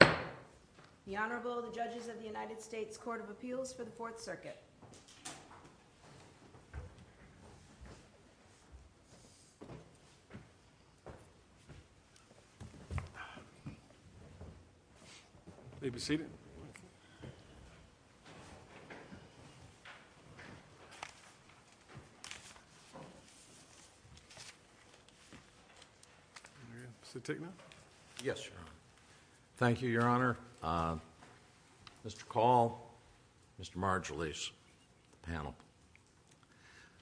The Honorable, the Judges of the United States Court of Appeals for the Fourth Circuit. Thank you, Your Honor, Mr. Call, Mr. Marjolies, Mr. Marjolies, Mr. Marjolies, Mr. Marjolies, The panel.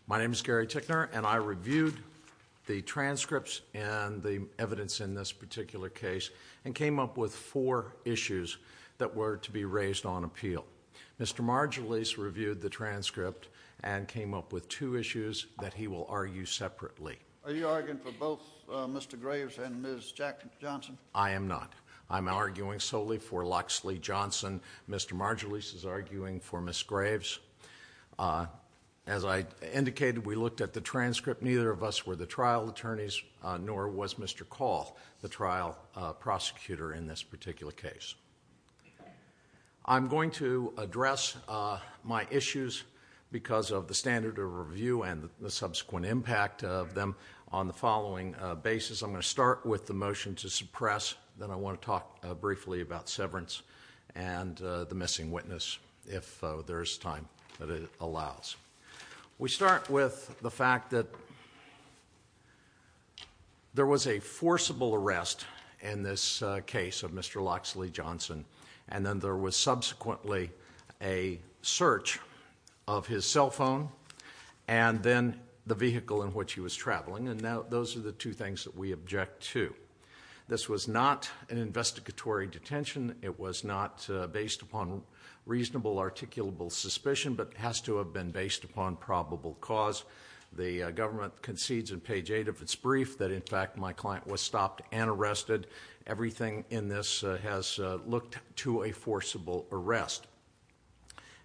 My name is Gary Ticknor, and I reviewed the transcripts and the evidence in this particular case and came up with four issues that were to be raised on appeal. Mr. Marjolies reviewed the transcript and came up with two issues that he will argue separately. Are you arguing for both Mr. Graves and Ms. Jackson? I am not. I am arguing solely for Loxley Johnson. Mr. Marjolies is arguing for Ms. Graves. As I indicated, we looked at the transcript. Neither of us were the trial attorneys, nor was Mr. Call the trial prosecutor in this particular case. I am going to address my issues because of the standard of review and the subsequent impact of them on the following basis. I am going to start with the motion to suppress, then I want to talk briefly about severance and the missing witness, if there is time that it allows. We start with the fact that there was a forcible arrest in this case of Mr. Loxley Johnson, and then there was subsequently a search of his cell phone and then the vehicle in which he was traveling. Those are the two things that we object to. This was not an investigatory detention. It was not based upon reasonable articulable suspicion, but it has to have been based upon probable cause. The government concedes in page 8 of its brief that, in fact, my client was stopped and arrested. Everything in this has looked to a forcible arrest,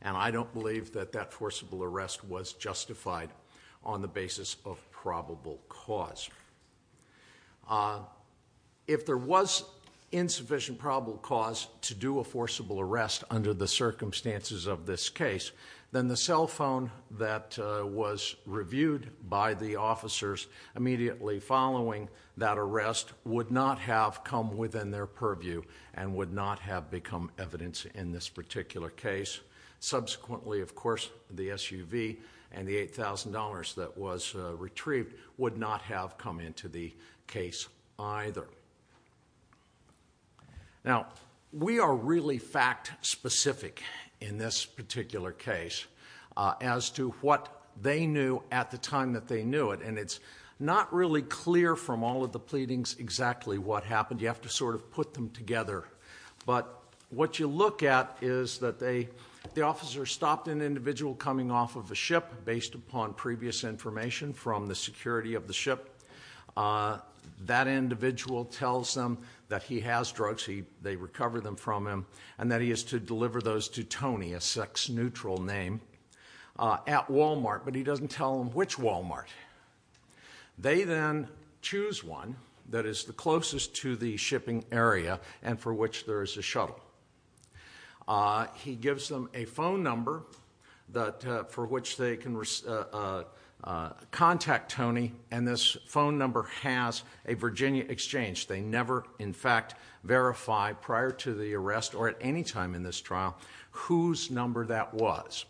and I don't believe that that forcible arrest was justified on the basis of probable cause. If there was insufficient probable cause to do a forcible arrest under the circumstances of this case, then the cell phone that was reviewed by the officers immediately following that arrest would not have come within their purview and would not have become evidence in this particular case. Subsequently, of course, the SUV and the $8,000 that was retrieved would not have come into the case either. Now, we are really fact specific in this particular case as to what they knew at the time that they knew it, and it's not really clear from all of the pleadings exactly what happened. You have to sort of put them together, but what you look at is that the officer stopped an individual coming off of a ship, based upon previous information from the security of the ship. That individual tells them that he has drugs. They recover them from him, and that he is to deliver those to Tony, a sex-neutral name, at Walmart, but he doesn't tell them which Walmart. They then choose one that is the closest to the shipping area and for which there is a shuttle. He gives them a phone number for which they can contact Tony, and this phone number has a Virginia exchange. They never, in fact, verify prior to the arrest or at any time in this trial whose number that was.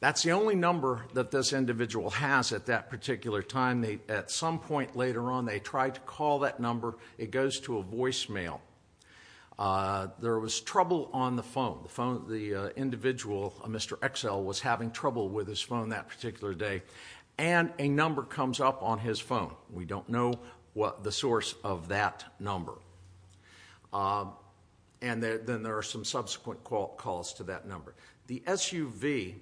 That's the only number that this individual has at that particular time. At some point later on, they tried to call that number. It goes to a voicemail. There was trouble on the phone. The individual, Mr. Excel, was having trouble with his phone that particular day, and a number comes up on his phone. We don't know the source of that number, and then there are some subsequent calls to that number. The SUV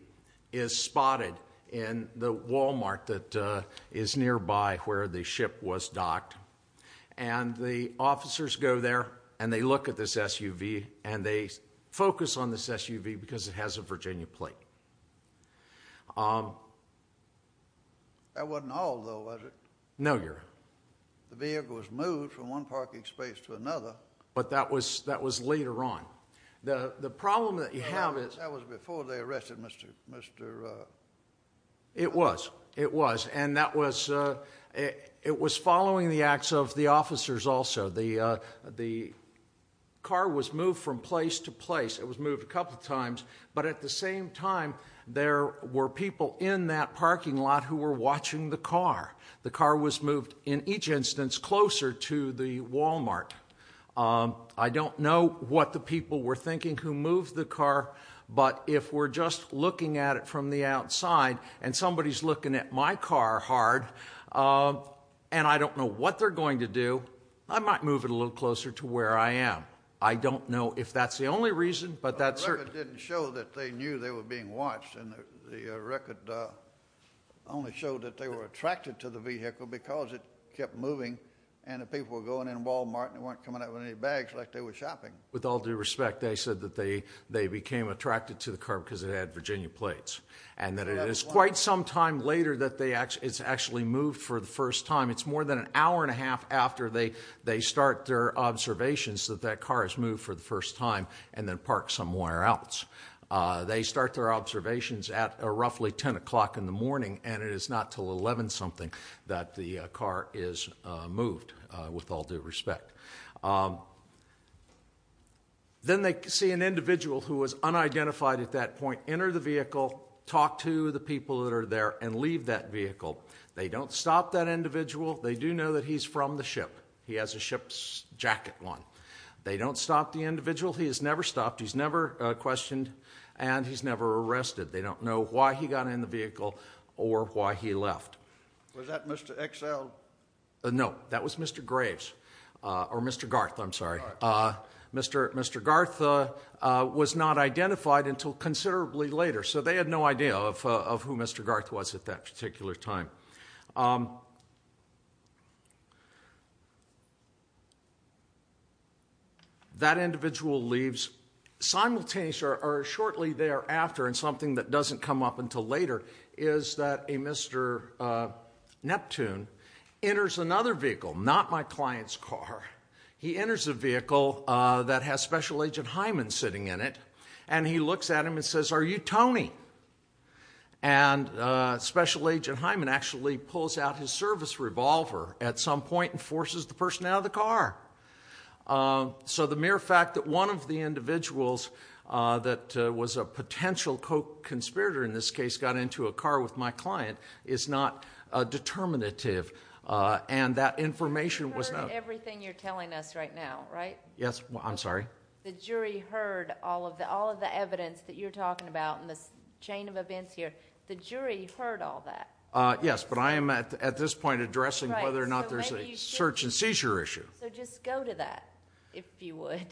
is spotted in the Walmart that is nearby where the ship was docked, and the officers go there, and they look at this SUV, and they focus on this SUV because it has a Virginia plate. That wasn't all, though, was it? No, Your Honor. The vehicle was moved from one parking space to another. But that was later on. The problem that you have is... That was before they arrested Mr.... It was. It was, and it was following the acts of the officers also. The car was moved from place to place. It was moved a couple of times, but at the same time, there were people in that parking lot who were watching the car. The car was moved, in each instance, closer to the Walmart. I don't know what the people were thinking who moved the car, but if we're just looking at it from the outside, and somebody's looking at my car hard, and I don't know what they're going to do, I might move it a little closer to where I am. I don't know if that's the only reason, but that's... The record didn't show that they knew they were being watched, and the record only showed that they were attracted to the vehicle because it kept moving, and the people were going to Walmart, and they weren't coming out with any bags like they were shopping. With all due respect, they said that they became attracted to the car because it had Virginia plates, and that it is quite some time later that it's actually moved for the first time. It's more than an hour and a half after they start their observations that that car is moved for the first time, and then parked somewhere else. They start their observations at roughly 10 o'clock in the morning, and it is not till 11 something that the car is moved, with all due respect. Then they see an individual who was unidentified at that point enter the vehicle, talk to the people that are there, and leave that vehicle. They don't stop that individual. They do know that he's from the ship. He has a ship's jacket on. They don't stop the individual. He has never stopped. He's never questioned, and he's never arrested. They don't know why he got in the vehicle or why he left. Was that Mr. XL? No, that was Mr. Graves, or Mr. Garth, I'm sorry. Mr. Garth was not identified until considerably later, so they had no idea of who Mr. Garth was at that particular time. That individual leaves simultaneously, or shortly thereafter, and something that doesn't come up until later, is that a Mr. Neptune enters another vehicle, not my client's car. He enters a vehicle that has Special Agent Hyman sitting in it, and he looks at him and says, are you Tony? And Special Agent Hyman actually pulls out his service revolver at some point and forces the person out of the car. So the mere fact that one of the individuals that was a potential co-conspirator in this case got into a car with my client is not determinative, and that information was... I've heard everything you're telling us right now, right? Yes, I'm sorry. The jury heard all of the evidence that you're talking about in this chain of events here. The jury heard all that. Yes, but I am at this point addressing whether or not there's a search and seizure issue. So just go to that, if you would.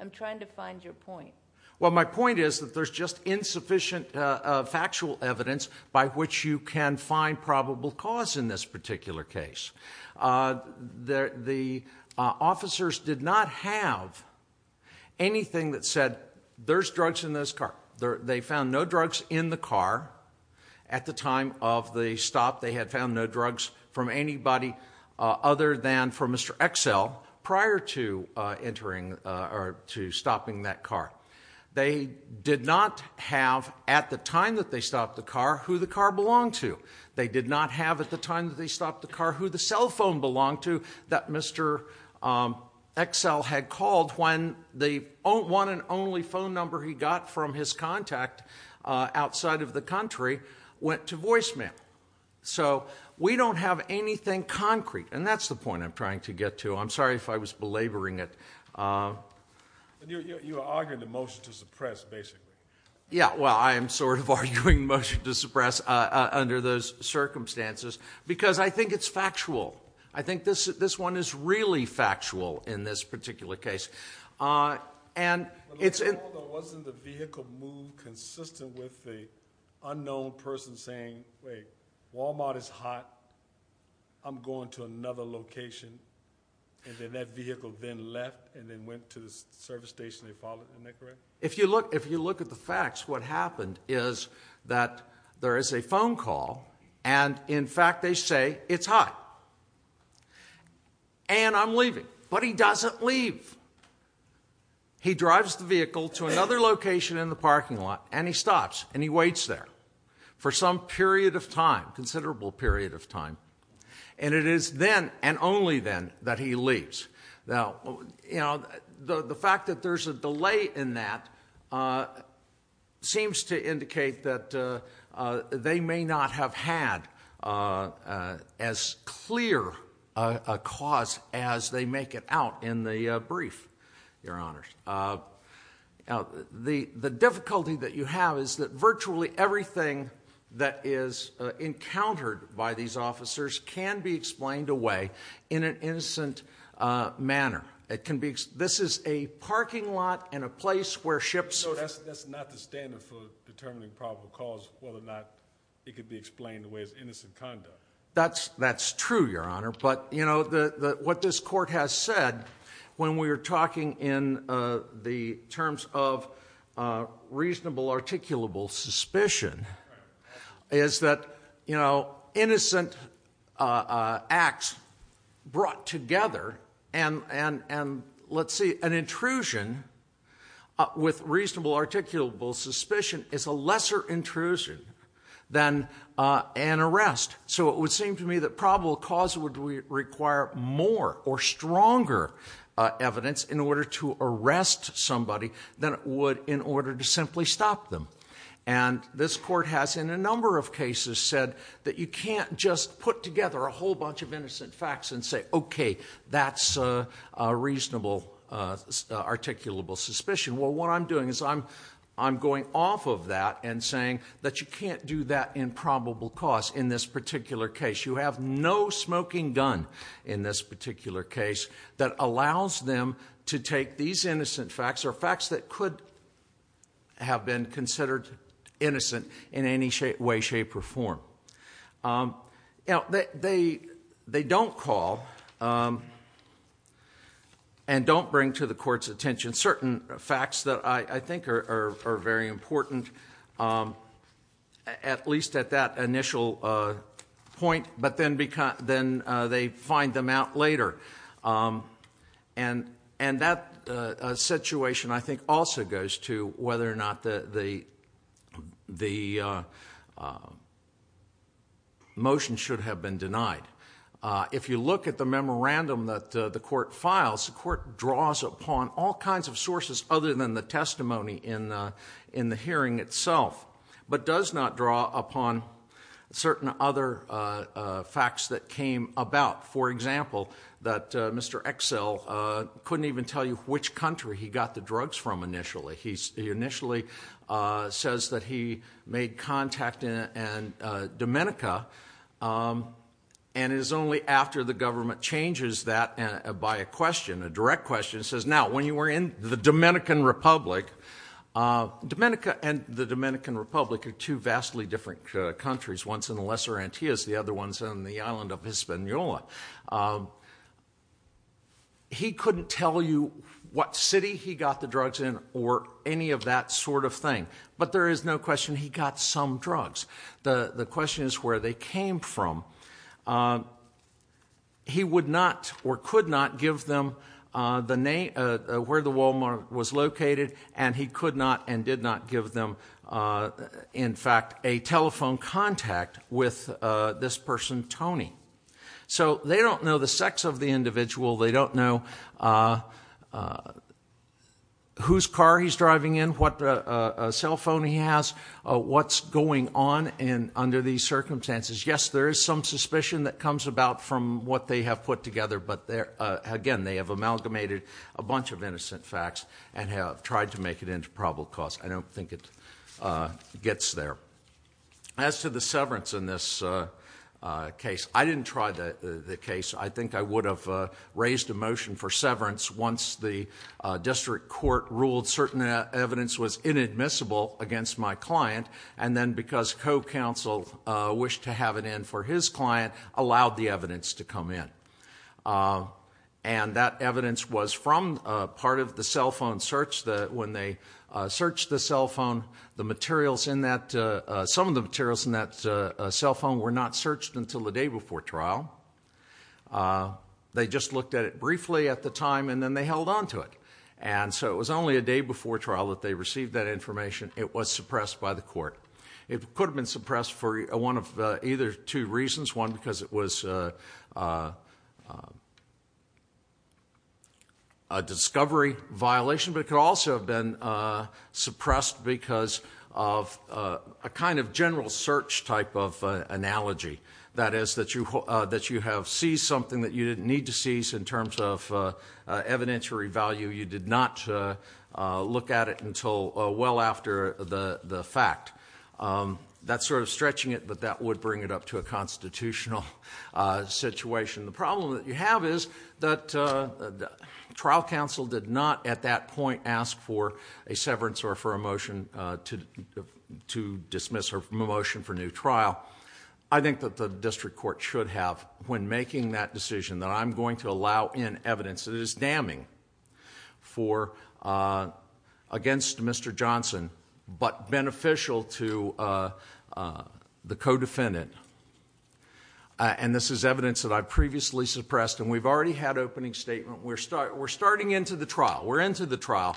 I'm trying to find your point. Well my point is that there's just insufficient factual evidence by which you can find probable cause in this particular case. The officers did not have anything that said, there's drugs in this car. They found no drugs in the car at the time of the stop. They had found no drugs from anybody other than from Mr. Excel prior to entering or to stopping that car. They did not have, at the time that they stopped the car, who the car belonged to. They did not have, at the time that they stopped the car, who the cell phone belonged to that Mr. Excel had called when the one and only phone number he got from his contact outside of the country went to voicemail. So we don't have anything concrete, and that's the point I'm trying to get to. I'm sorry if I was belaboring it. You are arguing the motion to suppress, basically. Yeah, well I am sort of arguing motion to suppress under those circumstances because I think it's factual. I think this one is really factual in this particular case. And it's- Wasn't the vehicle moved consistent with the unknown person saying, wait, Walmart is hot, I'm going to another location, and then that vehicle then left and then went to the service station they followed, isn't that correct? If you look at the facts, what happened is that there is a phone call, and in fact they say it's hot, and I'm leaving. But he doesn't leave. He drives the vehicle to another location in the parking lot, and he stops, and he waits there for some period of time, considerable period of time, and it is then, and only then, that he leaves. Now, you know, the fact that there's a delay in that seems to indicate that they may not have had as clear a cause as they make it out in the brief, Your Honors. The difficulty that you have is that virtually everything that is encountered by these officers can be explained away in an innocent manner. This is a parking lot in a place where ships- So that's not the standard for determining probable cause, whether or not it can be explained away as innocent conduct. That's true, Your Honor. But, you know, what this court has said when we were talking in the terms of reasonable articulable suspicion is that, you know, innocent acts brought together, and let's see, an intrusion with reasonable articulable suspicion is a lesser intrusion than an arrest. So it would seem to me that probable cause would require more or stronger evidence in order to simply stop them. And this court has, in a number of cases, said that you can't just put together a whole bunch of innocent facts and say, okay, that's a reasonable articulable suspicion. Well, what I'm doing is I'm going off of that and saying that you can't do that in probable cause in this particular case. You have no smoking gun in this particular case that allows them to take these innocent facts or facts that could have been considered innocent in any way, shape, or form. They don't call and don't bring to the court's attention certain facts that I think are very important, at least at that initial point, but then they find them out later. And that situation I think also goes to whether or not the motion should have been denied. If you look at the memorandum that the court files, the court draws upon all kinds of sources other than the testimony in the hearing itself, but does not draw upon certain other facts that came about. For example, that Mr. Excel couldn't even tell you which country he got the drugs from initially. He initially says that he made contact in Dominica, and it is only after the government changes that by a question, a direct question, it says, now, when you were in the Dominican Republic, Dominica and the Dominican Republic are two vastly different countries. One's in the Lesser Antilles, the other one's in the island of Hispaniola. He couldn't tell you what city he got the drugs in or any of that sort of thing. But there is no question he got some drugs. The question is where they came from. He would not or could not give them the name, where the Walmart was located, and he could telephone contact with this person, Tony. So they don't know the sex of the individual. They don't know whose car he's driving in, what cell phone he has, what's going on under these circumstances. Yes, there is some suspicion that comes about from what they have put together, but again, they have amalgamated a bunch of innocent facts and have tried to make it into probable cause. I don't think it gets there. As to the severance in this case, I didn't try the case. I think I would have raised a motion for severance once the district court ruled certain evidence was inadmissible against my client, and then because co-counsel wished to have it in for his client, allowed the evidence to come in. And that evidence was from part of the cell phone search. When they searched the cell phone, some of the materials in that cell phone were not searched until the day before trial. They just looked at it briefly at the time, and then they held on to it. And so it was only a day before trial that they received that information. It was suppressed by the court. It could have been suppressed for one of either two reasons. One, because it was a discovery violation, but it could also have been suppressed because of a kind of general search type of analogy, that is, that you have seized something that you didn't need to seize in terms of evidentiary value. You did not look at it until well after the fact. That's sort of stretching it, but that would bring it up to a constitutional situation. The problem that you have is that trial counsel did not at that point ask for a severance or for a motion to dismiss or a motion for new trial. I think that the district court should have, when making that decision, that I'm going to allow in evidence that is damning against Mr. Johnson, but beneficial to the co-defendant. And this is evidence that I previously suppressed, and we've already had opening statement. We're starting into the trial. We're into the trial.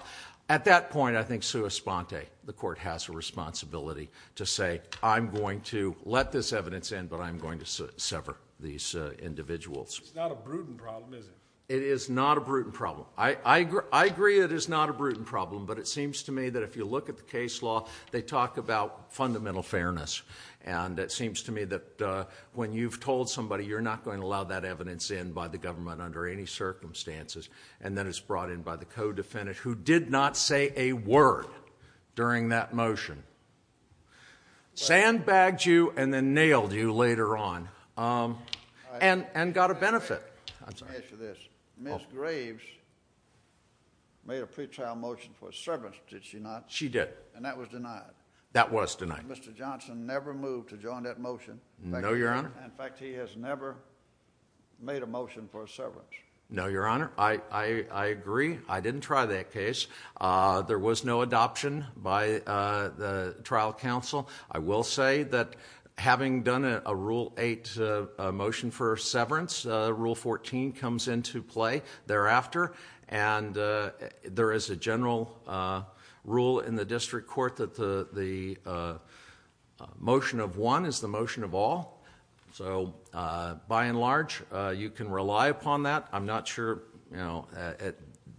At that point, I think, sua sponte, the court has a responsibility to say, I'm going to let this evidence in, but I'm going to sever these individuals. It's not a prudent problem, is it? It is not a prudent problem. I agree it is not a prudent problem, but it seems to me that if you look at the case law, they talk about fundamental fairness. And it seems to me that when you've told somebody you're not going to allow that evidence in by the government under any circumstances, and then it's brought in by the co-defendant who did not say a word during that motion, sandbagged you and then nailed you later on, and got a benefit. Let me ask you this. Ms. Graves made a pretrial motion for a severance, did she not? She did. And that was denied. That was denied. Mr. Johnson never moved to join that motion. No, Your Honor. In fact, he has never made a motion for a severance. No, Your Honor. I agree. I didn't try that case. There was no adoption by the trial counsel. I will say that having done a Rule 8 motion for a severance, Rule 14 comes into play thereafter. And there is a general rule in the district court that the motion of one is the motion of all. So by and large, you can rely upon that. I'm not sure, you know,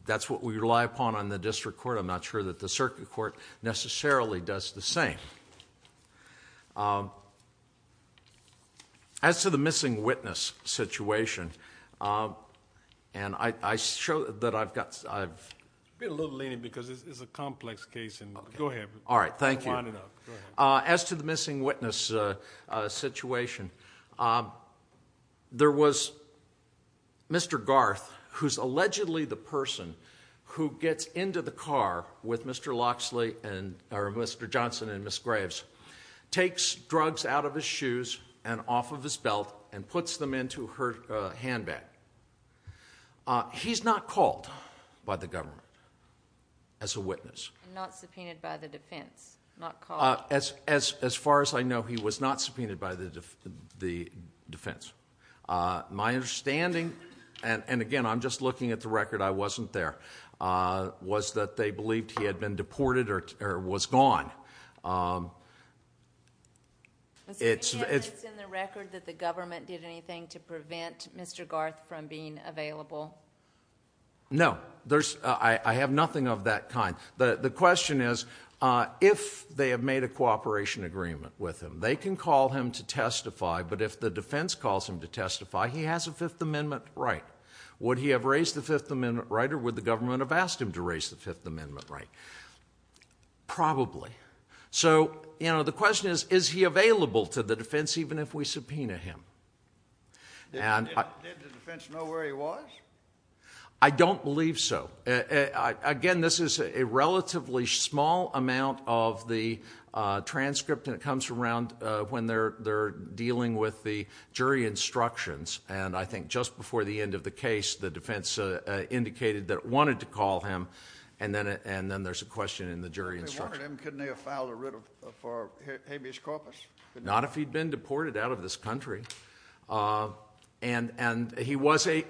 that's what we rely upon on the district court. I'm not sure that the circuit court necessarily does the same. As to the missing witness situation, and I show that I've got, I've... It's a little lenient because it's a complex case and... Go ahead. All right. Thank you. Go ahead. As to the missing witness situation, there was Mr. Garth, who's allegedly the person who gets into the car with Mr. Locksley and, or Mr. Johnson and Ms. Graves, takes drugs out of his shoes and off of his belt and puts them into her handbag. He's not called by the government as a witness. And not subpoenaed by the defense, not called. As far as I know, he was not subpoenaed by the defense. My understanding, and again, I'm just looking at the record, I wasn't there, was that they believed he had been deported or was gone. It's... It's in the record that the government did anything to prevent Mr. Garth from being available? No. There's... I have nothing of that kind. The question is, if they have made a cooperation agreement with him, they can call him to testify, but if the defense calls him to testify, he has a Fifth Amendment right. Would he have raised the Fifth Amendment right, or would the government have asked him to raise the Fifth Amendment right? Probably. So, you know, the question is, is he available to the defense, even if we subpoena him? And I... Did the defense know where he was? I don't believe so. Again, this is a relatively small amount of the transcript, and it comes around when they're dealing with the jury instructions, and I think just before the end of the case, the defense indicated that it wanted to call him, and then there's a question in the jury instruction. If they wanted him, couldn't they have filed a writ for habeas corpus? Not if he'd been deported out of this country. And he was a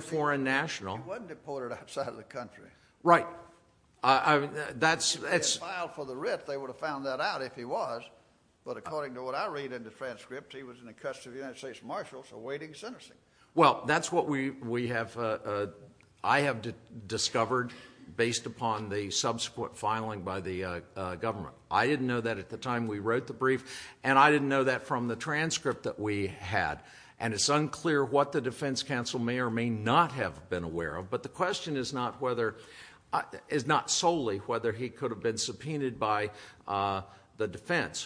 foreign national. He wasn't deported outside of the country. Right. That's... If they had filed for the writ, they would have found that out, if he was. But according to what I read in the transcript, he was in the custody of the United States Marshals awaiting sentencing. Well, that's what we have... I have discovered based upon the subsequent filing by the government. I didn't know that at the time we wrote the brief, and I didn't know that from the transcript that we had. And it's unclear what the defense counsel may or may not have been aware of, but the question is whether, if he had been subpoenaed by the defense,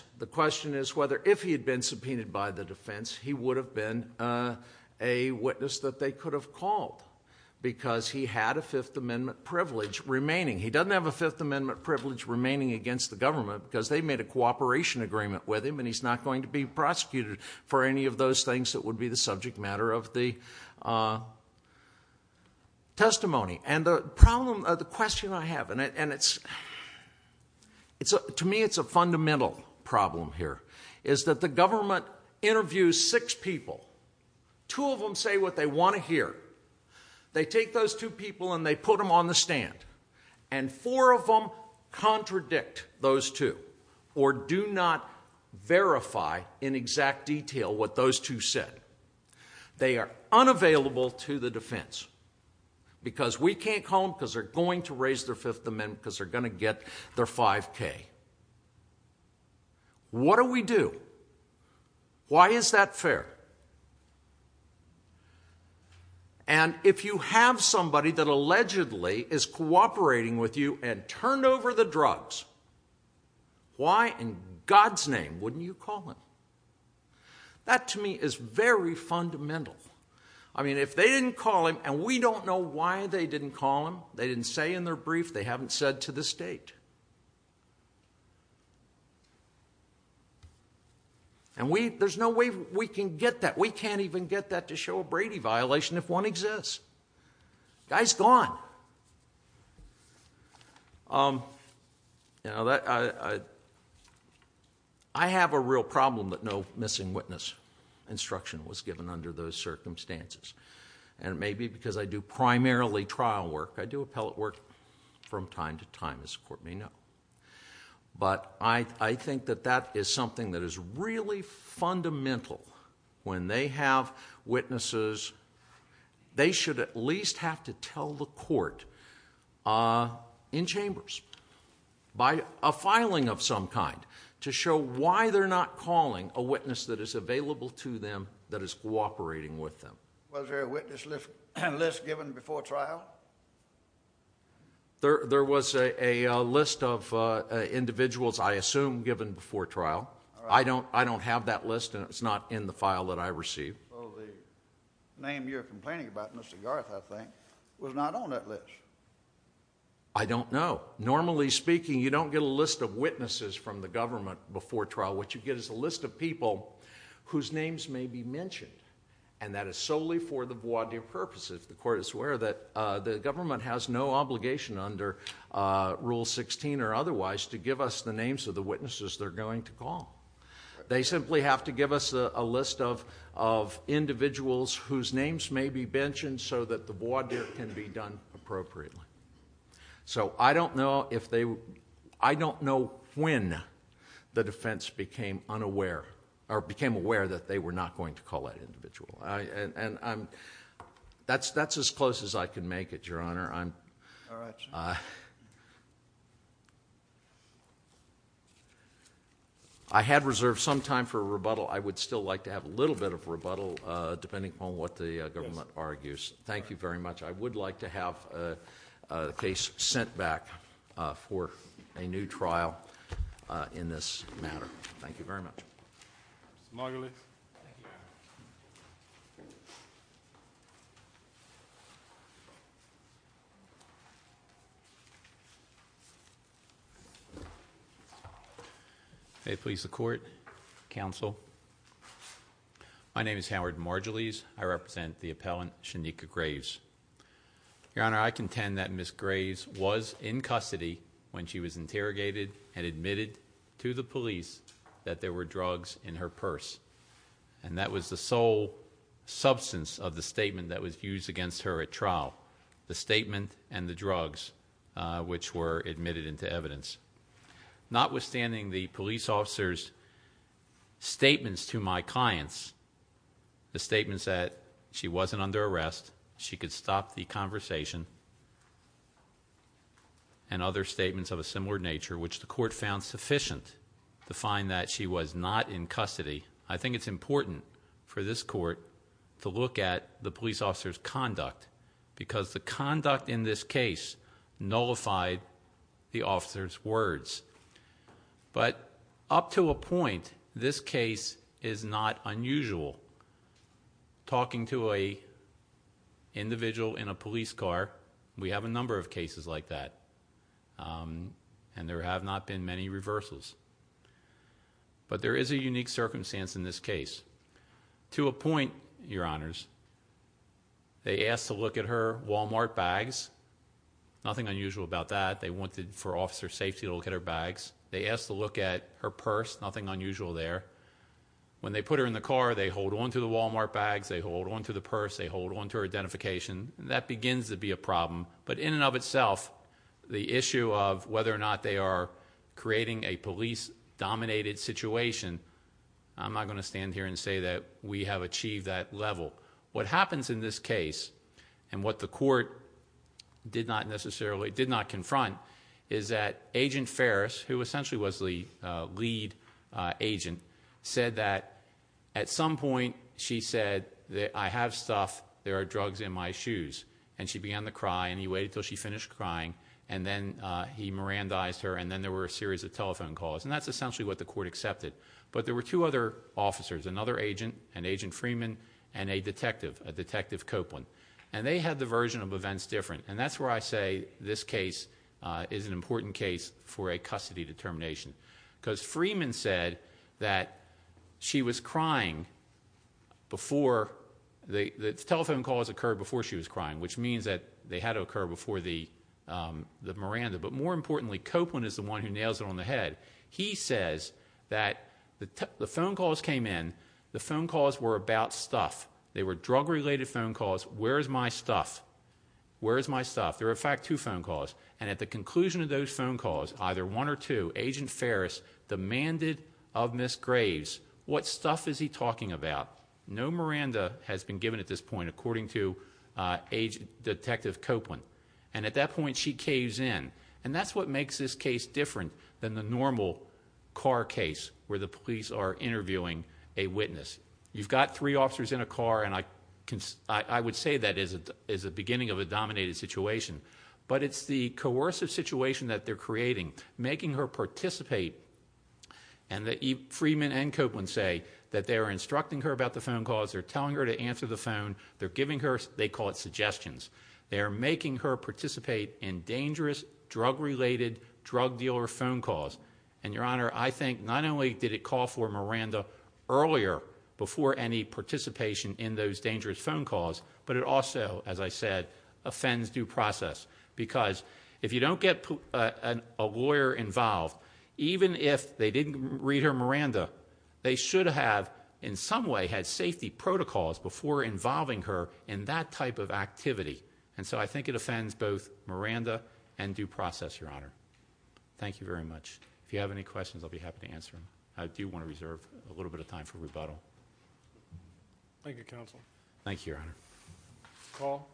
he would have been a witness that they could have called, because he had a Fifth Amendment privilege remaining. He doesn't have a Fifth Amendment privilege remaining against the government, because they made a cooperation agreement with him, and he's not going to be prosecuted for any of those things that would be the subject matter of the testimony. And the problem... The question I have, and it's... To me, it's a fundamental problem here, is that the government interviews six people. Two of them say what they want to hear. They take those two people and they put them on the stand, and four of them contradict those two, or do not verify in exact detail what those two said. They are unavailable to the defense, because we can't call them because they're going to raise their Fifth Amendment, because they're going to get their 5K. What do we do? Why is that fair? And if you have somebody that allegedly is cooperating with you and turned over the drugs, why in God's name wouldn't you call him? That, to me, is very fundamental. I mean, if they didn't call him, and we don't know why they didn't call him, they didn't say in their brief, they haven't said to the state. And we... There's no way we can get that. We can't even get that to show a Brady violation if one exists. Guy's gone. I have a real problem that no missing witness instruction was given under those circumstances. And it may be because I do primarily trial work. I do appellate work from time to time, as the court may know. But I think that that is something that is really fundamental. When they have witnesses, they should at least have to tell the court in chambers by a filing of some kind to show why they're not calling a witness that is available to them that is cooperating with them. Was there a witness list given before trial? There was a list of individuals, I assume, given before trial. I don't have that list, and it's not in the file that I received. So the name you're complaining about, Mr. Garth, I think, was not on that list. I don't know. Normally speaking, you don't get a list of witnesses from the government before trial. What you get is a list of people whose names may be mentioned. And that is solely for the void of purpose, if the court is aware that the government has no obligation under Rule 16 or otherwise to give us the names of the witnesses they're going to call. They simply have to give us a list of individuals whose names may be mentioned so that the voir dire can be done appropriately. So I don't know if they—I don't know when the defense became unaware—or became aware that they were not going to call that individual. That's as close as I can make it, Your Honor. I'm— All right, Your Honor. I had reserved some time for rebuttal. I would still like to have a little bit of rebuttal, depending upon what the government argues. Thank you very much. I would like to have the case sent back for a new trial in this matter. Mr. Margulis. Thank you, Your Honor. May it please the Court, Counsel. My name is Howard Margulis. I represent the appellant, Shanika Graves. Your Honor, I contend that Ms. Graves was in custody when she was interrogated and admitted to the police that there were drugs in her purse. And that was the sole substance of the statement that was used against her at trial, the statement and the drugs which were admitted into evidence. Notwithstanding the police officer's statements to my clients, the statements that she wasn't under arrest, she could stop the conversation, and other statements of a similar nature, which the Court found sufficient to find that she was not in custody. I think it's important for this Court to look at the police officer's conduct, because the conduct in this case nullified the officer's words. But up to a point, this case is not unusual. Talking to an individual in a police car, we have a number of cases like that. And there have not been many reversals. But there is a unique circumstance in this case. To a point, Your Honors, they asked to look at her Walmart bags. Nothing unusual about that. They wanted for officer safety to look at her bags. They asked to look at her purse. Nothing unusual there. When they put her in the car, they hold on to the Walmart bags, they hold on to the purse, they hold on to her identification. That begins to be a problem. But in and of itself, the issue of whether or not they are creating a police-dominated situation, I'm not going to stand here and say that we have achieved that level. What happens in this case, and what the Court did not necessarily, did not confront, is that Agent Ferris, who essentially was the lead agent, said that at some point, she said, I have stuff, there are drugs in my shoes. And she began to cry, and he waited until she finished crying. And then he Mirandized her, and then there were a series of telephone calls. And that's essentially what the Court accepted. But there were two other officers, another agent, and Agent Freeman, and a detective, a Detective Copeland. And they had the version of events different. And that's where I say this case is an important case for a custody determination. Because Freeman said that she was crying before, the telephone calls occurred before she was crying, which means that they had to occur before the Miranda. But more importantly, Copeland is the one who nails it on the head. He says that the phone calls came in, the phone calls were about stuff. They were drug-related phone calls, where's my stuff? Where's my stuff? There were, in fact, two phone calls. And at the conclusion of those phone calls, either one or two, Agent Ferris demanded of Ms. Graves, what stuff is he talking about? No Miranda has been given at this point, according to Agent Detective Copeland. And at that point, she caves in. And that's what makes this case different than the normal car case, where the police are interviewing a witness. You've got three officers in a car, and I would say that is the beginning of a dominated situation. But it's the coercive situation that they're creating, making her participate. And Freedman and Copeland say that they're instructing her about the phone calls, they're telling her to answer the phone, they're giving her, they call it suggestions. They're making her participate in dangerous, drug-related, drug dealer phone calls. And Your Honor, I think not only did it call for Miranda earlier before any participation in those dangerous phone calls, but it also, as I said, offends due process. Because if you don't get a lawyer involved, even if they didn't read her Miranda, they should have, in some way, had safety protocols before involving her in that type of activity. And so I think it offends both Miranda and due process, Your Honor. Thank you very much. If you have any questions, I'll be happy to answer them. I do want to reserve a little bit of time for rebuttal. Thank you, Counsel. Thank you, Your Honor. Call.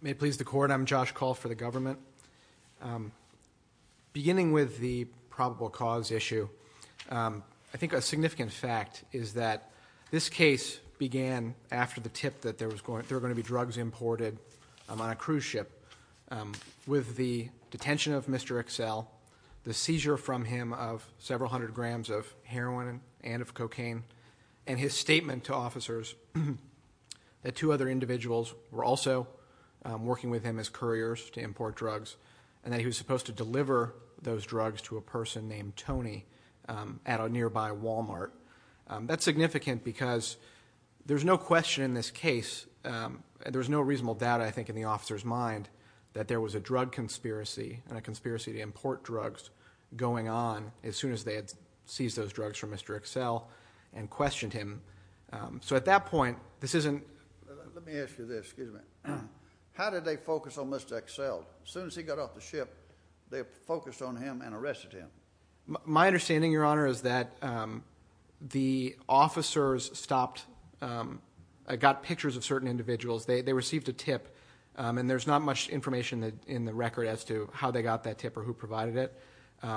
May it please the court, I'm Josh Call for the government. Beginning with the probable cause issue, I think a significant fact is that this case began after the tip that there were going to be drugs imported on a cruise ship. With the detention of Mr. Excel, the seizure from him of several hundred grams of heroin and of cocaine, and his statement to officers that two other individuals were also working with him as couriers to import drugs, and that he was supposed to deliver those drugs to a person named Tony at a nearby Walmart. That's significant because there's no question in this case, and there's no reasonable doubt, I think, in the officer's mind, that there was a drug conspiracy, and a conspiracy to import drugs going on as soon as they had seized those drugs from Mr. Excel and questioned him. So at that point, this isn't- Let me ask you this, excuse me. How did they focus on Mr. Excel? As soon as he got off the ship, they focused on him and arrested him. My understanding, Your Honor, is that the officers stopped, got pictures of certain individuals. They received a tip, and there's not much information in the record as to how they got that tip or who provided it,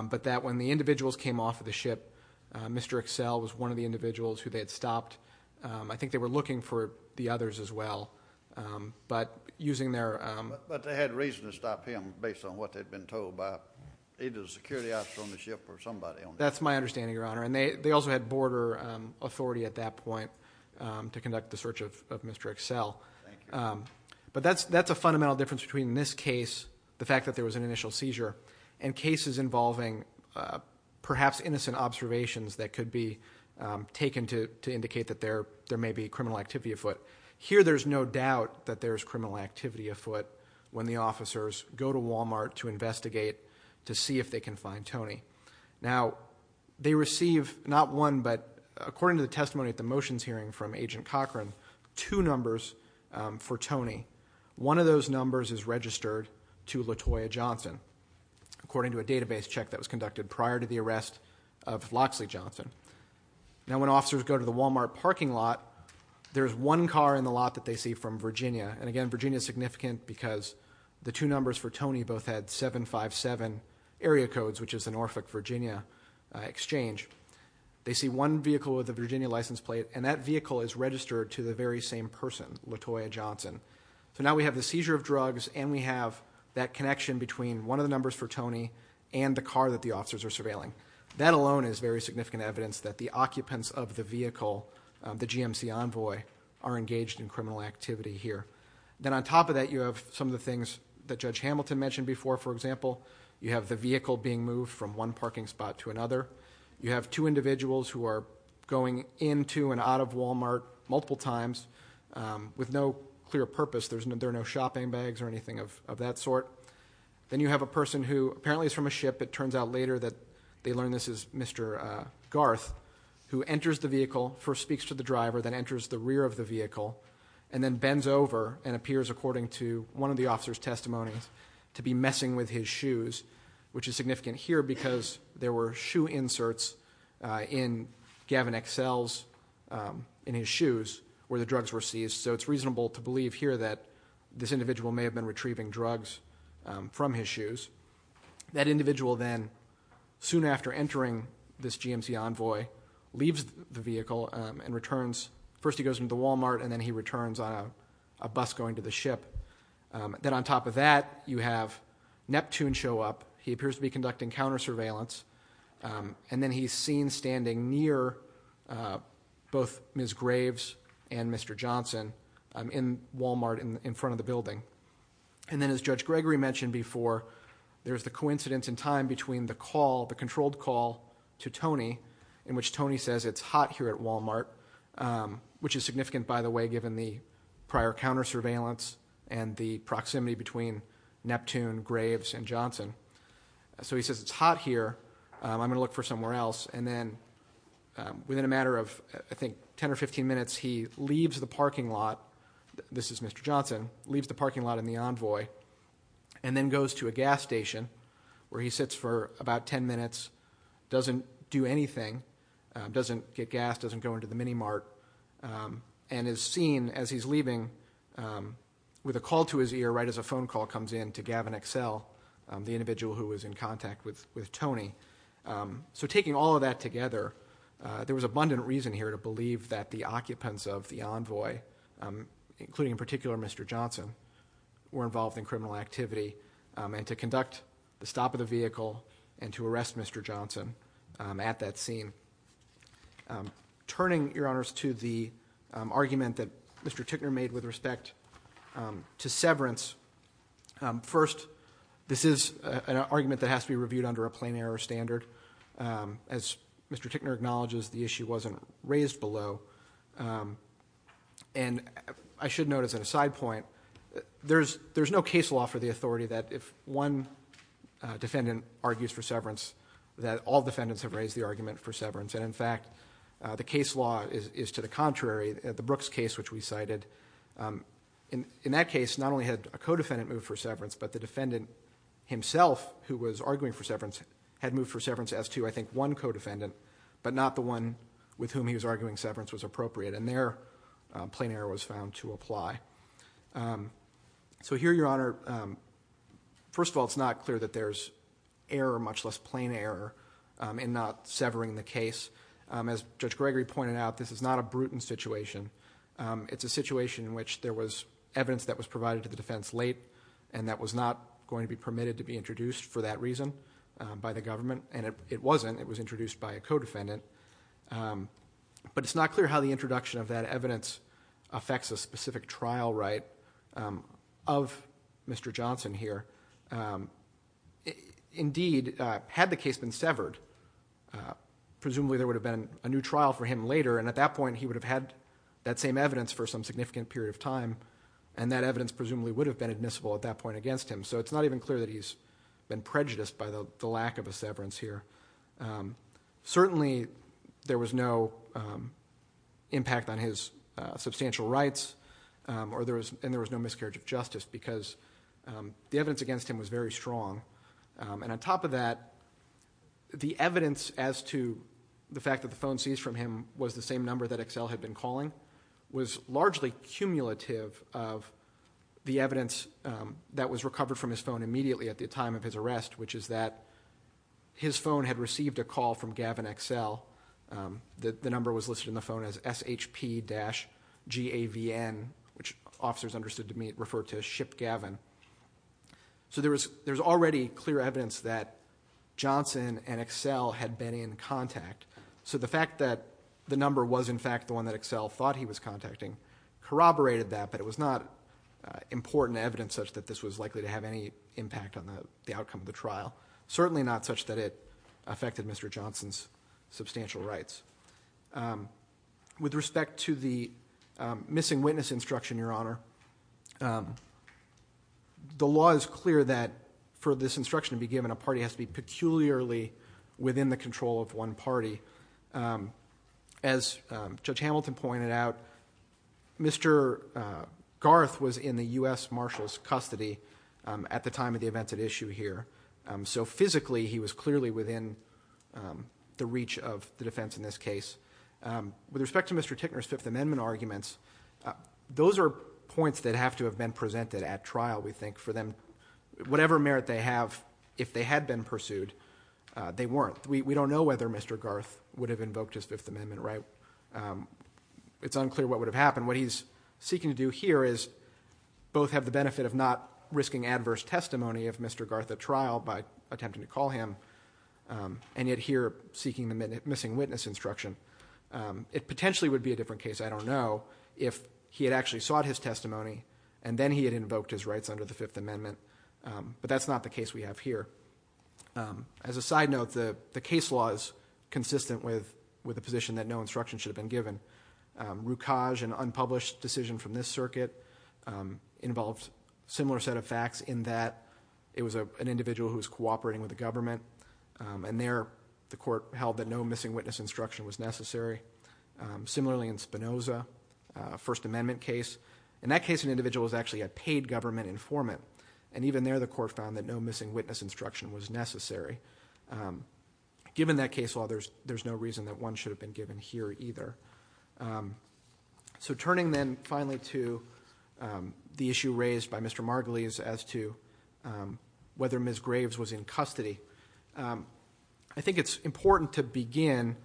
but that when the individuals came off of the ship, Mr. Excel was one of the individuals who they had stopped. I think they were looking for the others as well, but using their- But they had reason to stop him based on what they'd been told by either the security officer on the ship or somebody on the ship. That's my understanding, Your Honor. And they also had border authority at that point to conduct the search of Mr. Excel. But that's a fundamental difference between this case, the fact that there was an initial seizure, and cases involving perhaps innocent observations that could be taken to indicate that there may be criminal activity afoot. Here, there's no doubt that there's criminal activity afoot when the officers go to Walmart to investigate to see if they can find Tony. Now, they receive not one, but according to the testimony at the motions hearing from the officers for Tony, one of those numbers is registered to LaToya Johnson, according to a database check that was conducted prior to the arrest of Loxley Johnson. Now, when officers go to the Walmart parking lot, there's one car in the lot that they see from Virginia, and again, Virginia is significant because the two numbers for Tony both had 757 area codes, which is the Norfolk, Virginia exchange. They see one vehicle with a Virginia license plate, and that vehicle is registered to the very same person, LaToya Johnson. So now we have the seizure of drugs, and we have that connection between one of the numbers for Tony and the car that the officers are surveilling. That alone is very significant evidence that the occupants of the vehicle, the GMC envoy, are engaged in criminal activity here. Then on top of that, you have some of the things that Judge Hamilton mentioned before, for example, you have the vehicle being moved from one parking spot to another. You have two individuals who are going into and out of Walmart multiple times with no clear purpose. There are no shopping bags or anything of that sort. Then you have a person who apparently is from a ship, it turns out later that they learned this is Mr. Garth, who enters the vehicle, first speaks to the driver, then enters the rear of the vehicle, and then bends over and appears, according to one of the officer's testimonies, to be messing with his shoes. Which is significant here because there were shoe inserts in Gavin Excel's, in his shoes, where the drugs were seized. So it's reasonable to believe here that this individual may have been retrieving drugs from his shoes. That individual then, soon after entering this GMC envoy, leaves the vehicle and returns. First he goes into the Walmart, and then he returns on a bus going to the ship. Then on top of that, you have Neptune show up. He appears to be conducting counter surveillance. And then he's seen standing near both Ms. Graves and Mr. Johnson in Walmart in front of the building. And then as Judge Gregory mentioned before, there's the coincidence in time between the call, the controlled call to Tony, in which Tony says it's hot here at Walmart. Which is significant, by the way, given the prior counter surveillance and the proximity between Neptune, Graves, and Johnson. So he says it's hot here, I'm going to look for somewhere else. And then within a matter of, I think, ten or 15 minutes, he leaves the parking lot. This is Mr. Johnson, leaves the parking lot in the envoy, and then goes to a gas station where he sits for about ten minutes, doesn't do anything. Doesn't get gas, doesn't go into the mini mart, and is seen as he's leaving with a call to his ear right as a phone call comes in to Gavin Excel, the individual who was in contact with Tony. So taking all of that together, there was abundant reason here to believe that the occupants of the envoy, including in particular Mr. Johnson, were involved in criminal activity, and to conduct the stop of the vehicle and to arrest Mr. Johnson at that scene. Turning, your honors, to the argument that Mr. Tickner made with respect to severance. First, this is an argument that has to be reviewed under a plain error standard. As Mr. Tickner acknowledges, the issue wasn't raised below. And I should note as an aside point, there's no case law for the authority that if one defendant argues for severance, that all defendants have raised the argument for severance. And in fact, the case law is to the contrary. The Brooks case which we cited, in that case, not only had a co-defendant move for severance, but the defendant himself, who was arguing for severance, had moved for severance as to, I think, one co-defendant, but not the one with whom he was arguing severance was appropriate. And there, a plain error was found to apply. So here, your honor, first of all, it's not clear that there's error, much less plain error, in not severing the case. As Judge Gregory pointed out, this is not a brutal situation. It's a situation in which there was evidence that was provided to the defense late and that was not going to be permitted to be introduced for that reason by the government. And it wasn't, it was introduced by a co-defendant. But it's not clear how the introduction of that evidence affects a specific trial right of Mr. Johnson here. Indeed, had the case been severed, presumably there would have been a new trial for him later, and at that point he would have had that same evidence for some significant period of time. And that evidence presumably would have been admissible at that point against him. So it's not even clear that he's been prejudiced by the lack of a severance here. Certainly, there was no impact on his substantial rights, and there was no miscarriage of justice, because the evidence against him was very strong. And on top of that, the evidence as to the fact that the phone seized from him was the same number that Excel had been calling, was largely cumulative of the evidence that was recovered from his phone immediately at the time of his arrest. Which is that, his phone had received a call from Gavin Excel. The number was listed in the phone as SHP-GAVN, which officers understood to refer to as Ship Gavin. So there was already clear evidence that Johnson and Excel had been in contact. So the fact that the number was in fact the one that Excel thought he was contacting corroborated that, but it was not important evidence such that this was likely to have any impact on the outcome of the trial, certainly not such that it affected Mr. Johnson's substantial rights. With respect to the missing witness instruction, Your Honor, the law is clear that for this instruction to be given, a party has to be peculiarly within the control of one party. As Judge Hamilton pointed out, Mr. Garth was in the US Marshal's custody. At the time of the events at issue here. So physically, he was clearly within the reach of the defense in this case. With respect to Mr. Tickner's Fifth Amendment arguments, those are points that have to have been presented at trial, we think, for them. Whatever merit they have, if they had been pursued, they weren't. We don't know whether Mr. Garth would have invoked his Fifth Amendment right. It's unclear what would have happened. And what he's seeking to do here is both have the benefit of not risking adverse testimony of Mr. Garth at trial by attempting to call him, and yet here seeking the missing witness instruction. It potentially would be a different case, I don't know, if he had actually sought his testimony, and then he had invoked his rights under the Fifth Amendment. But that's not the case we have here. As a side note, the case law is consistent with the position that no instruction should have been given. Rukaj, an unpublished decision from this circuit, involved similar set of facts in that it was an individual who was cooperating with the government, and there the court held that no missing witness instruction was necessary, similarly in Spinoza, First Amendment case. In that case, an individual was actually a paid government informant. And even there, the court found that no missing witness instruction was necessary. Given that case law, there's no reason that one should have been given here either. So turning then finally to the issue raised by Mr. Margulies as to whether Ms. Graves was in custody. I think it's important to begin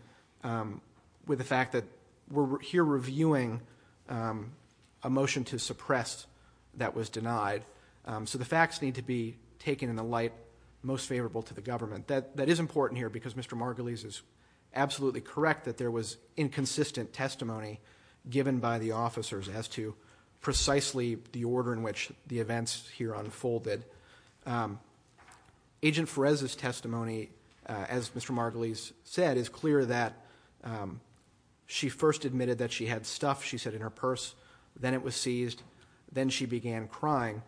with the fact that we're here reviewing a motion to suppress that was denied. So the facts need to be taken in a light most favorable to the government. That is important here because Mr. Margulies is absolutely correct that there was inconsistent testimony given by the officers as to precisely the order in which the events here unfolded. Agent Ferez's testimony, as Mr. Margulies said, is clear that she first admitted that she had stuff, she said, in her purse. Then it was seized. Then she began crying.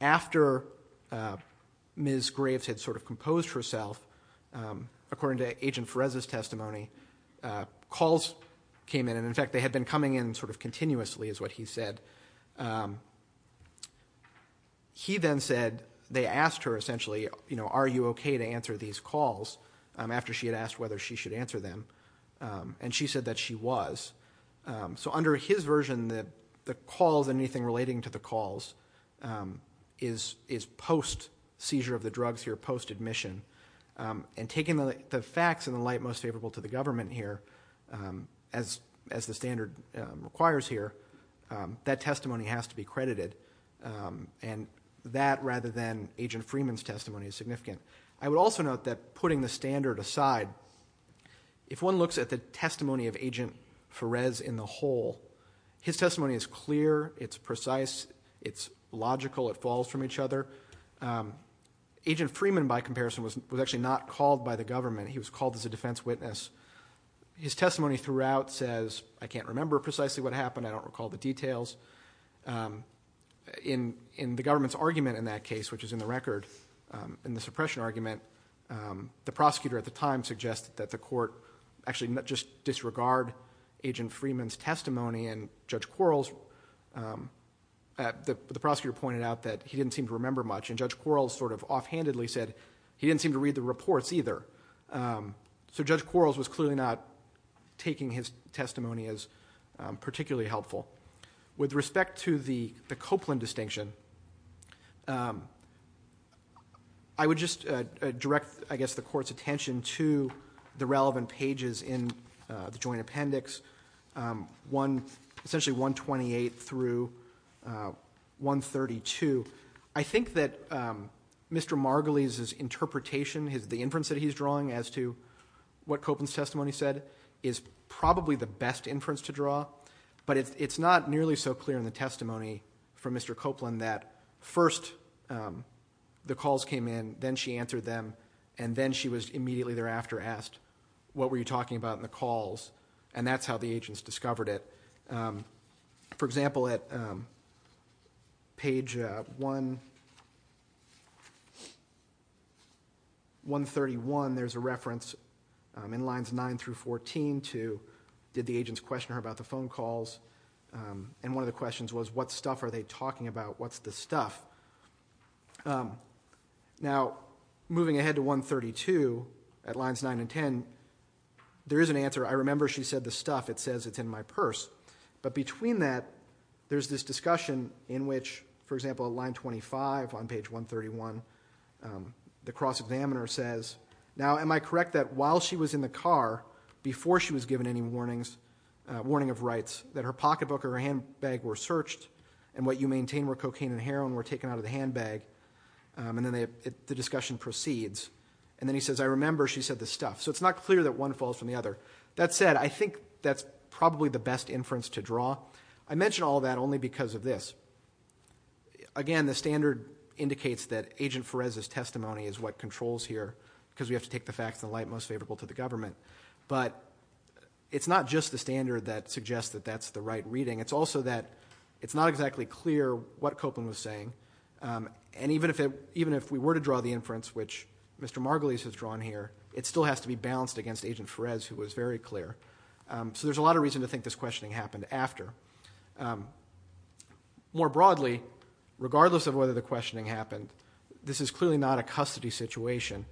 After Ms. Graves had sort of composed herself, according to Agent Ferez's testimony, calls came in. And in fact, they had been coming in sort of continuously is what he said. He then said, they asked her essentially, are you okay to answer these calls? After she had asked whether she should answer them, and she said that she was. So under his version, the calls and anything relating to the calls is post seizure of the drugs here, post admission. And taking the facts in a light most favorable to the government here, as the standard requires here, that testimony has to be credited. And that rather than Agent Freeman's testimony is significant. I would also note that putting the standard aside, if one looks at the testimony of Agent Ferez in the whole, his testimony is clear, it's precise, it's logical, it falls from each other. Agent Freeman, by comparison, was actually not called by the government. He was called as a defense witness. His testimony throughout says, I can't remember precisely what happened. I don't recall the details. In the government's argument in that case, which is in the record, in the suppression argument, the prosecutor at the time suggested that the court actually just disregard Agent Freeman's testimony. And Judge Quarles, the prosecutor pointed out that he didn't seem to read the reports much, and Judge Quarles sort of offhandedly said he didn't seem to read the reports either. So Judge Quarles was clearly not taking his testimony as particularly helpful. With respect to the Copeland distinction, I would just direct, I guess, the court's attention to the relevant pages in the joint appendix, essentially 128 through 132. I think that Mr. Margulies' interpretation, the inference that he's drawing as to what Copeland's testimony said, is probably the best inference to draw. But it's not nearly so clear in the testimony from Mr. Copeland that first the calls came in, then she answered them, and then she was immediately thereafter asked, what were you talking about in the calls, and that's how the agents discovered it. For example, at page 131, there's a reference in lines 9 through 14 to, did the agents question her about the phone calls? And one of the questions was, what stuff are they talking about? What's the stuff? Now, moving ahead to 132, at lines 9 and 10, there is an answer. I remember she said the stuff. It says it's in my purse. But between that, there's this discussion in which, for example, line 25 on page 131, the cross examiner says, now am I correct that while she was in the car, before she was given any warning of rights, that her pocketbook or her handbag were searched, and what you maintain were cocaine and heroin were taken out of the handbag, and then the discussion proceeds. And then he says, I remember she said the stuff. So it's not clear that one falls from the other. That said, I think that's probably the best inference to draw. I mention all that only because of this. Again, the standard indicates that Agent Perez's testimony is what controls here, because we have to take the facts in the light most favorable to the government. But it's not just the standard that suggests that that's the right reading. It's also that it's not exactly clear what Copeland was saying. And even if we were to draw the inference, which Mr. Margulies has drawn here, it still has to be balanced against Agent Perez, who was very clear. So there's a lot of reason to think this questioning happened after. More broadly, regardless of whether the questioning happened, this is clearly not a custody situation.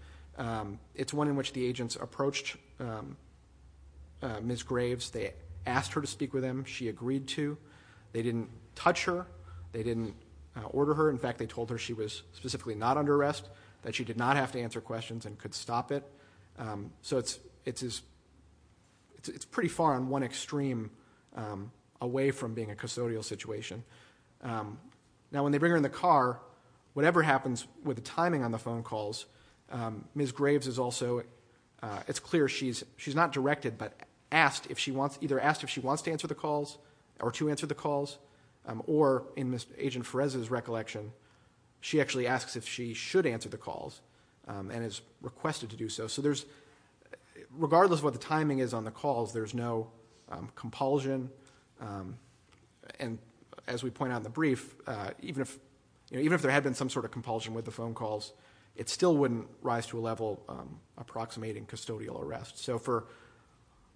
It's one in which the agents approached Ms. Graves. They asked her to speak with them. She agreed to. They didn't touch her. They didn't order her. In fact, they told her she was specifically not under arrest, that she did not have to answer questions and could stop it. So it's pretty far on one extreme away from being a custodial situation. Now, when they bring her in the car, whatever happens with the timing on the phone calls, Ms. Graves is also, it's clear she's not directed, but either asked if she wants to answer the calls, or to answer the calls, or in Agent Perez's recollection, she actually asks if she should answer the calls, and is requested to do so. So regardless of what the timing is on the calls, there's no compulsion. And as we point out in the brief, even if there had been some sort of compulsion with the phone calls, it still wouldn't rise to a level approximating custodial arrest. So for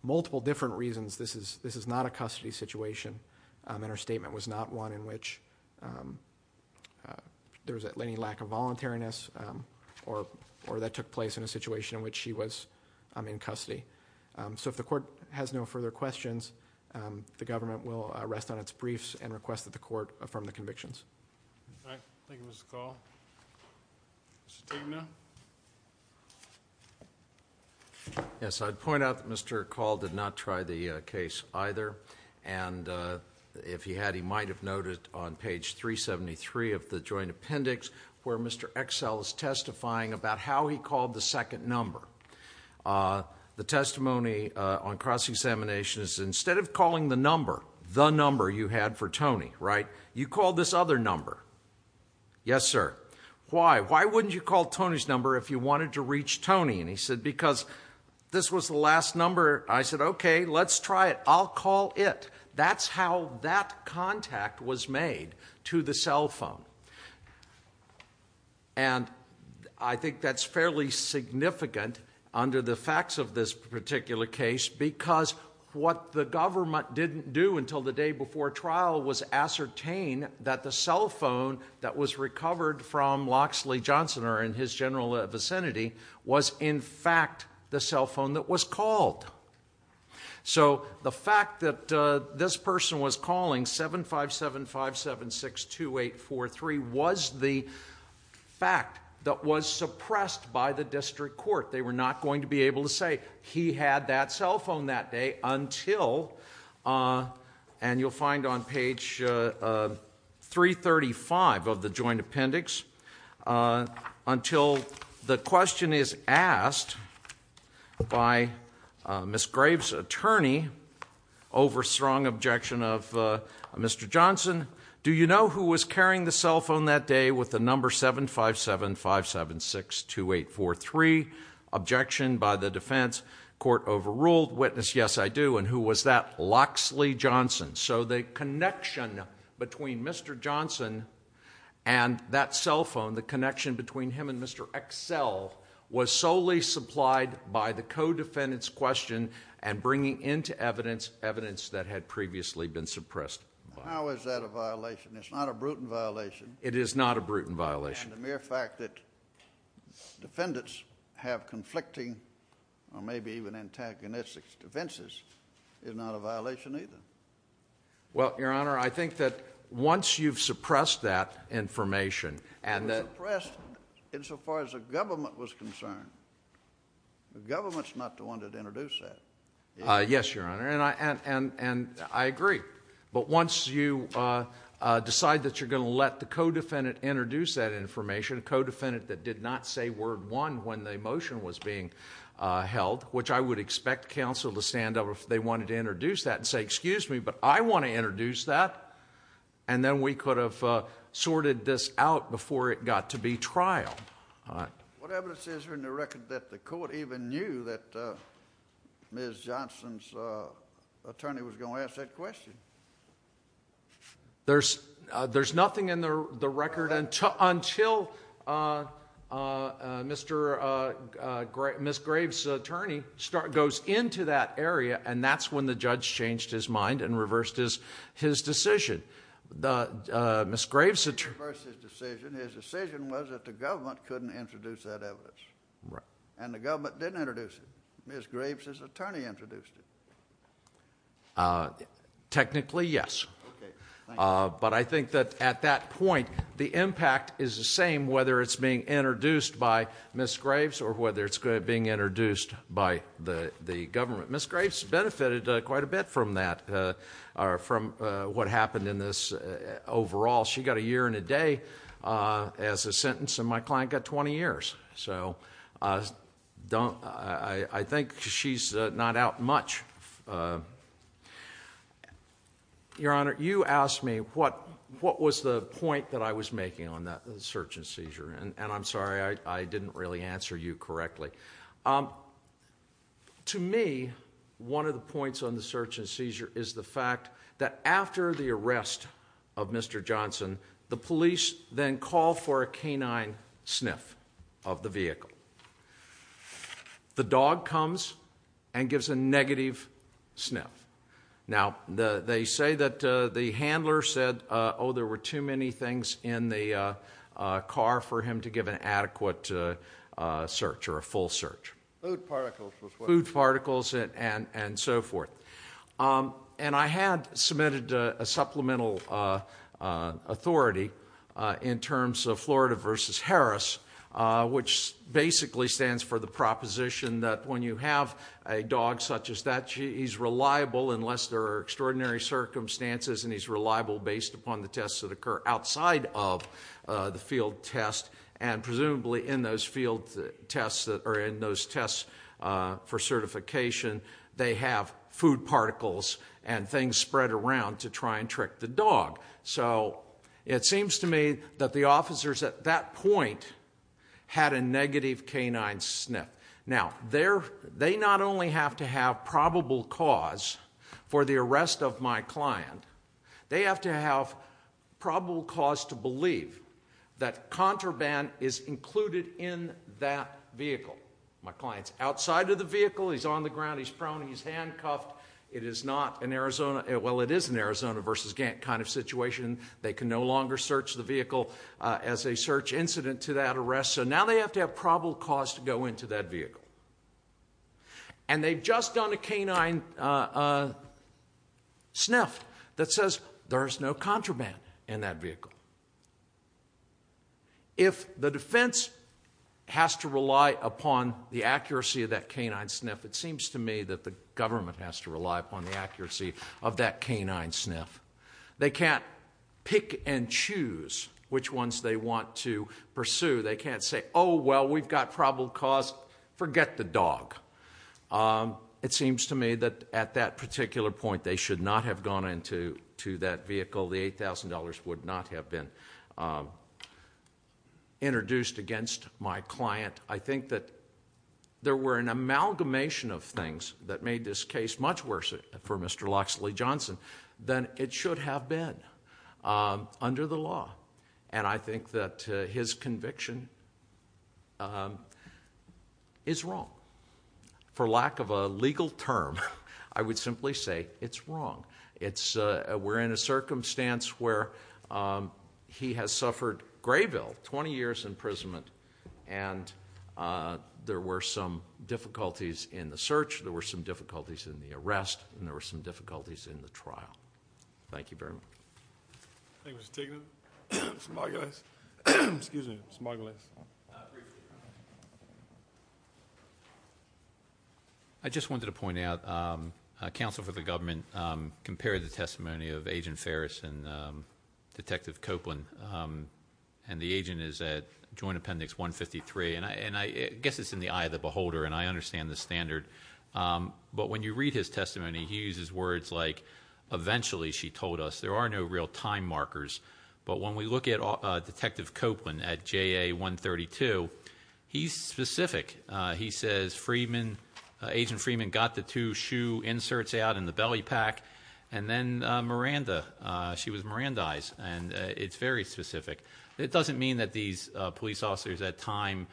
multiple different reasons, this is not a custody situation. And her statement was not one in which there was any lack of voluntariness, or that took place in a situation in which she was in custody. So if the court has no further questions, the government will rest on its briefs, and request that the court affirm the convictions. All right, thank you, Mr. Call. Mr. Tegman? Yes, I'd point out that Mr. Call did not try the case either. And if he had, he might have noted on page 373 of the joint appendix, where Mr. Excel is testifying about how he called the second number. The testimony on cross-examination is instead of calling the number, the number you had for Tony, right? You called this other number. Yes, sir. Why? Why wouldn't you call Tony's number if you wanted to reach Tony? And he said, because this was the last number. I said, okay, let's try it. I'll call it. That's how that contact was made, to the cell phone. And I think that's fairly significant under the facts of this particular case, because what the government didn't do until the day before trial was ascertain that the cell phone that was recovered from Loxley Johnson, or in his general vicinity, was in fact the cell phone that was called. So the fact that this person was calling 7575762843 was the fact that was suppressed by the district court. They were not going to be able to say he had that cell phone that day until, and you'll find on page 335 of the joint appendix, until the question is asked by Ms. Graves' attorney over strong objection of Mr. Johnson. Do you know who was carrying the cell phone that day with the number 7575762843? Objection by the defense. Court overruled. Witness, yes I do. And who was that? Loxley Johnson. So the connection between Mr. Johnson and that cell phone, the connection between him and Mr. Excel, was solely supplied by the co-defendant's question and bringing into evidence evidence that had previously been suppressed. How is that a violation? It's not a brutal violation. It is not a brutal violation. And the mere fact that defendants have conflicting, or it's not a violation either. Well, your honor, I think that once you've suppressed that information, and that- Suppressed insofar as the government was concerned. The government's not the one that introduced that. Yes, your honor, and I agree. But once you decide that you're going to let the co-defendant introduce that information, a co-defendant that did not say word one when the motion was being held, which I would expect counsel to stand up if they wanted to introduce that and say, excuse me, but I want to introduce that. And then we could have sorted this out before it got to be trialed. All right. What evidence is there in the record that the court even knew that Ms. Johnson's attorney was going to ask that question? There's nothing in the record until Ms. Graves' attorney goes into that area, and that's when the judge changed his mind and reversed his decision. Ms. Graves' attorney- Reversed his decision. His decision was that the government couldn't introduce that evidence. Right. And the government didn't introduce it. Ms. Graves' attorney introduced it. Technically, yes. Okay, thank you. But I think that at that point, the impact is the same whether it's being introduced by Ms. Graves or whether it's being introduced by the government. Ms. Graves benefited quite a bit from that, or from what happened in this overall. She got a year and a day as a sentence, and my client got 20 years. So I think she's not out much. Your Honor, you asked me what was the point that I was making on that search and seizure. And I'm sorry, I didn't really answer you correctly. To me, one of the points on the search and seizure is the fact that after the arrest of Mr. Johnson, the police then call for a canine sniff of the vehicle. The dog comes and gives a negative sniff. Now, they say that the handler said, there were too many things in the car for him to give an adequate search or a full search. Food particles. Food particles and so forth. And I had submitted a supplemental authority in terms of Florida versus Harris, which basically stands for the proposition that when you have a dog such as that, he's reliable unless there are extraordinary circumstances. And he's reliable based upon the tests that occur outside of the field test. And presumably in those field tests, or in those tests for certification, they have food particles and things spread around to try and trick the dog. So it seems to me that the officers at that point had a negative canine sniff. Now, they not only have to have probable cause for the arrest of my client. They have to have probable cause to believe that contraband is included in that vehicle. My client's outside of the vehicle, he's on the ground, he's prone, he's handcuffed. It is not an Arizona, well, it is an Arizona versus Gantt kind of situation. They can no longer search the vehicle as a search incident to that arrest. So now they have to have probable cause to go into that vehicle. And they've just done a canine sniff that says there's no contraband in that vehicle. If the defense has to rely upon the accuracy of that canine sniff, it seems to me that the government has to rely upon the accuracy of that canine sniff. They can't pick and choose which ones they want to pursue. They can't say, well, we've got probable cause, forget the dog. It seems to me that at that particular point, they should not have gone into that vehicle. The $8,000 would not have been introduced against my client. I think that there were an amalgamation of things that made this case much worse for Mr. Locksley Johnson than it should have been under the law. And I think that his conviction is wrong. For lack of a legal term, I would simply say it's wrong. We're in a circumstance where he has suffered Grayville, 20 years imprisonment, and there were some difficulties in the search. There were some difficulties in the arrest, and there were some difficulties in the trial. Thank you very much. Thank you, Mr. Tignan. Mr. Margulies. Excuse me. Mr. Margulies. I just wanted to point out, counsel for the government compared the testimony of Agent Ferris and the agent is at Joint Appendix 153, and I guess it's in the eye of the beholder, and I understand the standard. But when you read his testimony, he uses words like, eventually, she told us, there are no real time markers. But when we look at Detective Copeland at JA 132, he's specific. He says, Agent Freeman got the two shoe inserts out in the belly pack. And then Miranda, she was Mirandized, and it's very specific. It doesn't mean that these police officers at time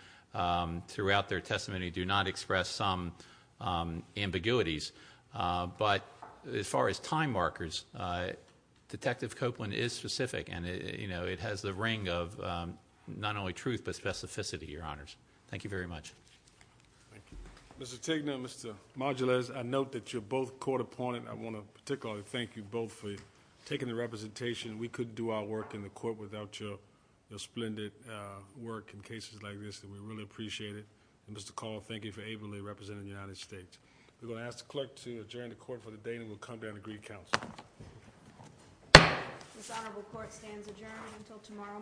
throughout their testimony do not express some ambiguities. But as far as time markers, Detective Copeland is specific, and it has the ring of not only truth, but specificity, your honors. Thank you very much. Thank you. Mr. Tignan, Mr. Margulies, I note that you're both court appointed. I want to particularly thank you both for taking the representation. We couldn't do our work in the court without your splendid work in cases like this, and we really appreciate it. And Mr. Call, thank you for ably representing the United States. We're going to ask the clerk to adjourn the court for the day, and we'll come back and agree counsel. This honorable court stands adjourned until tomorrow.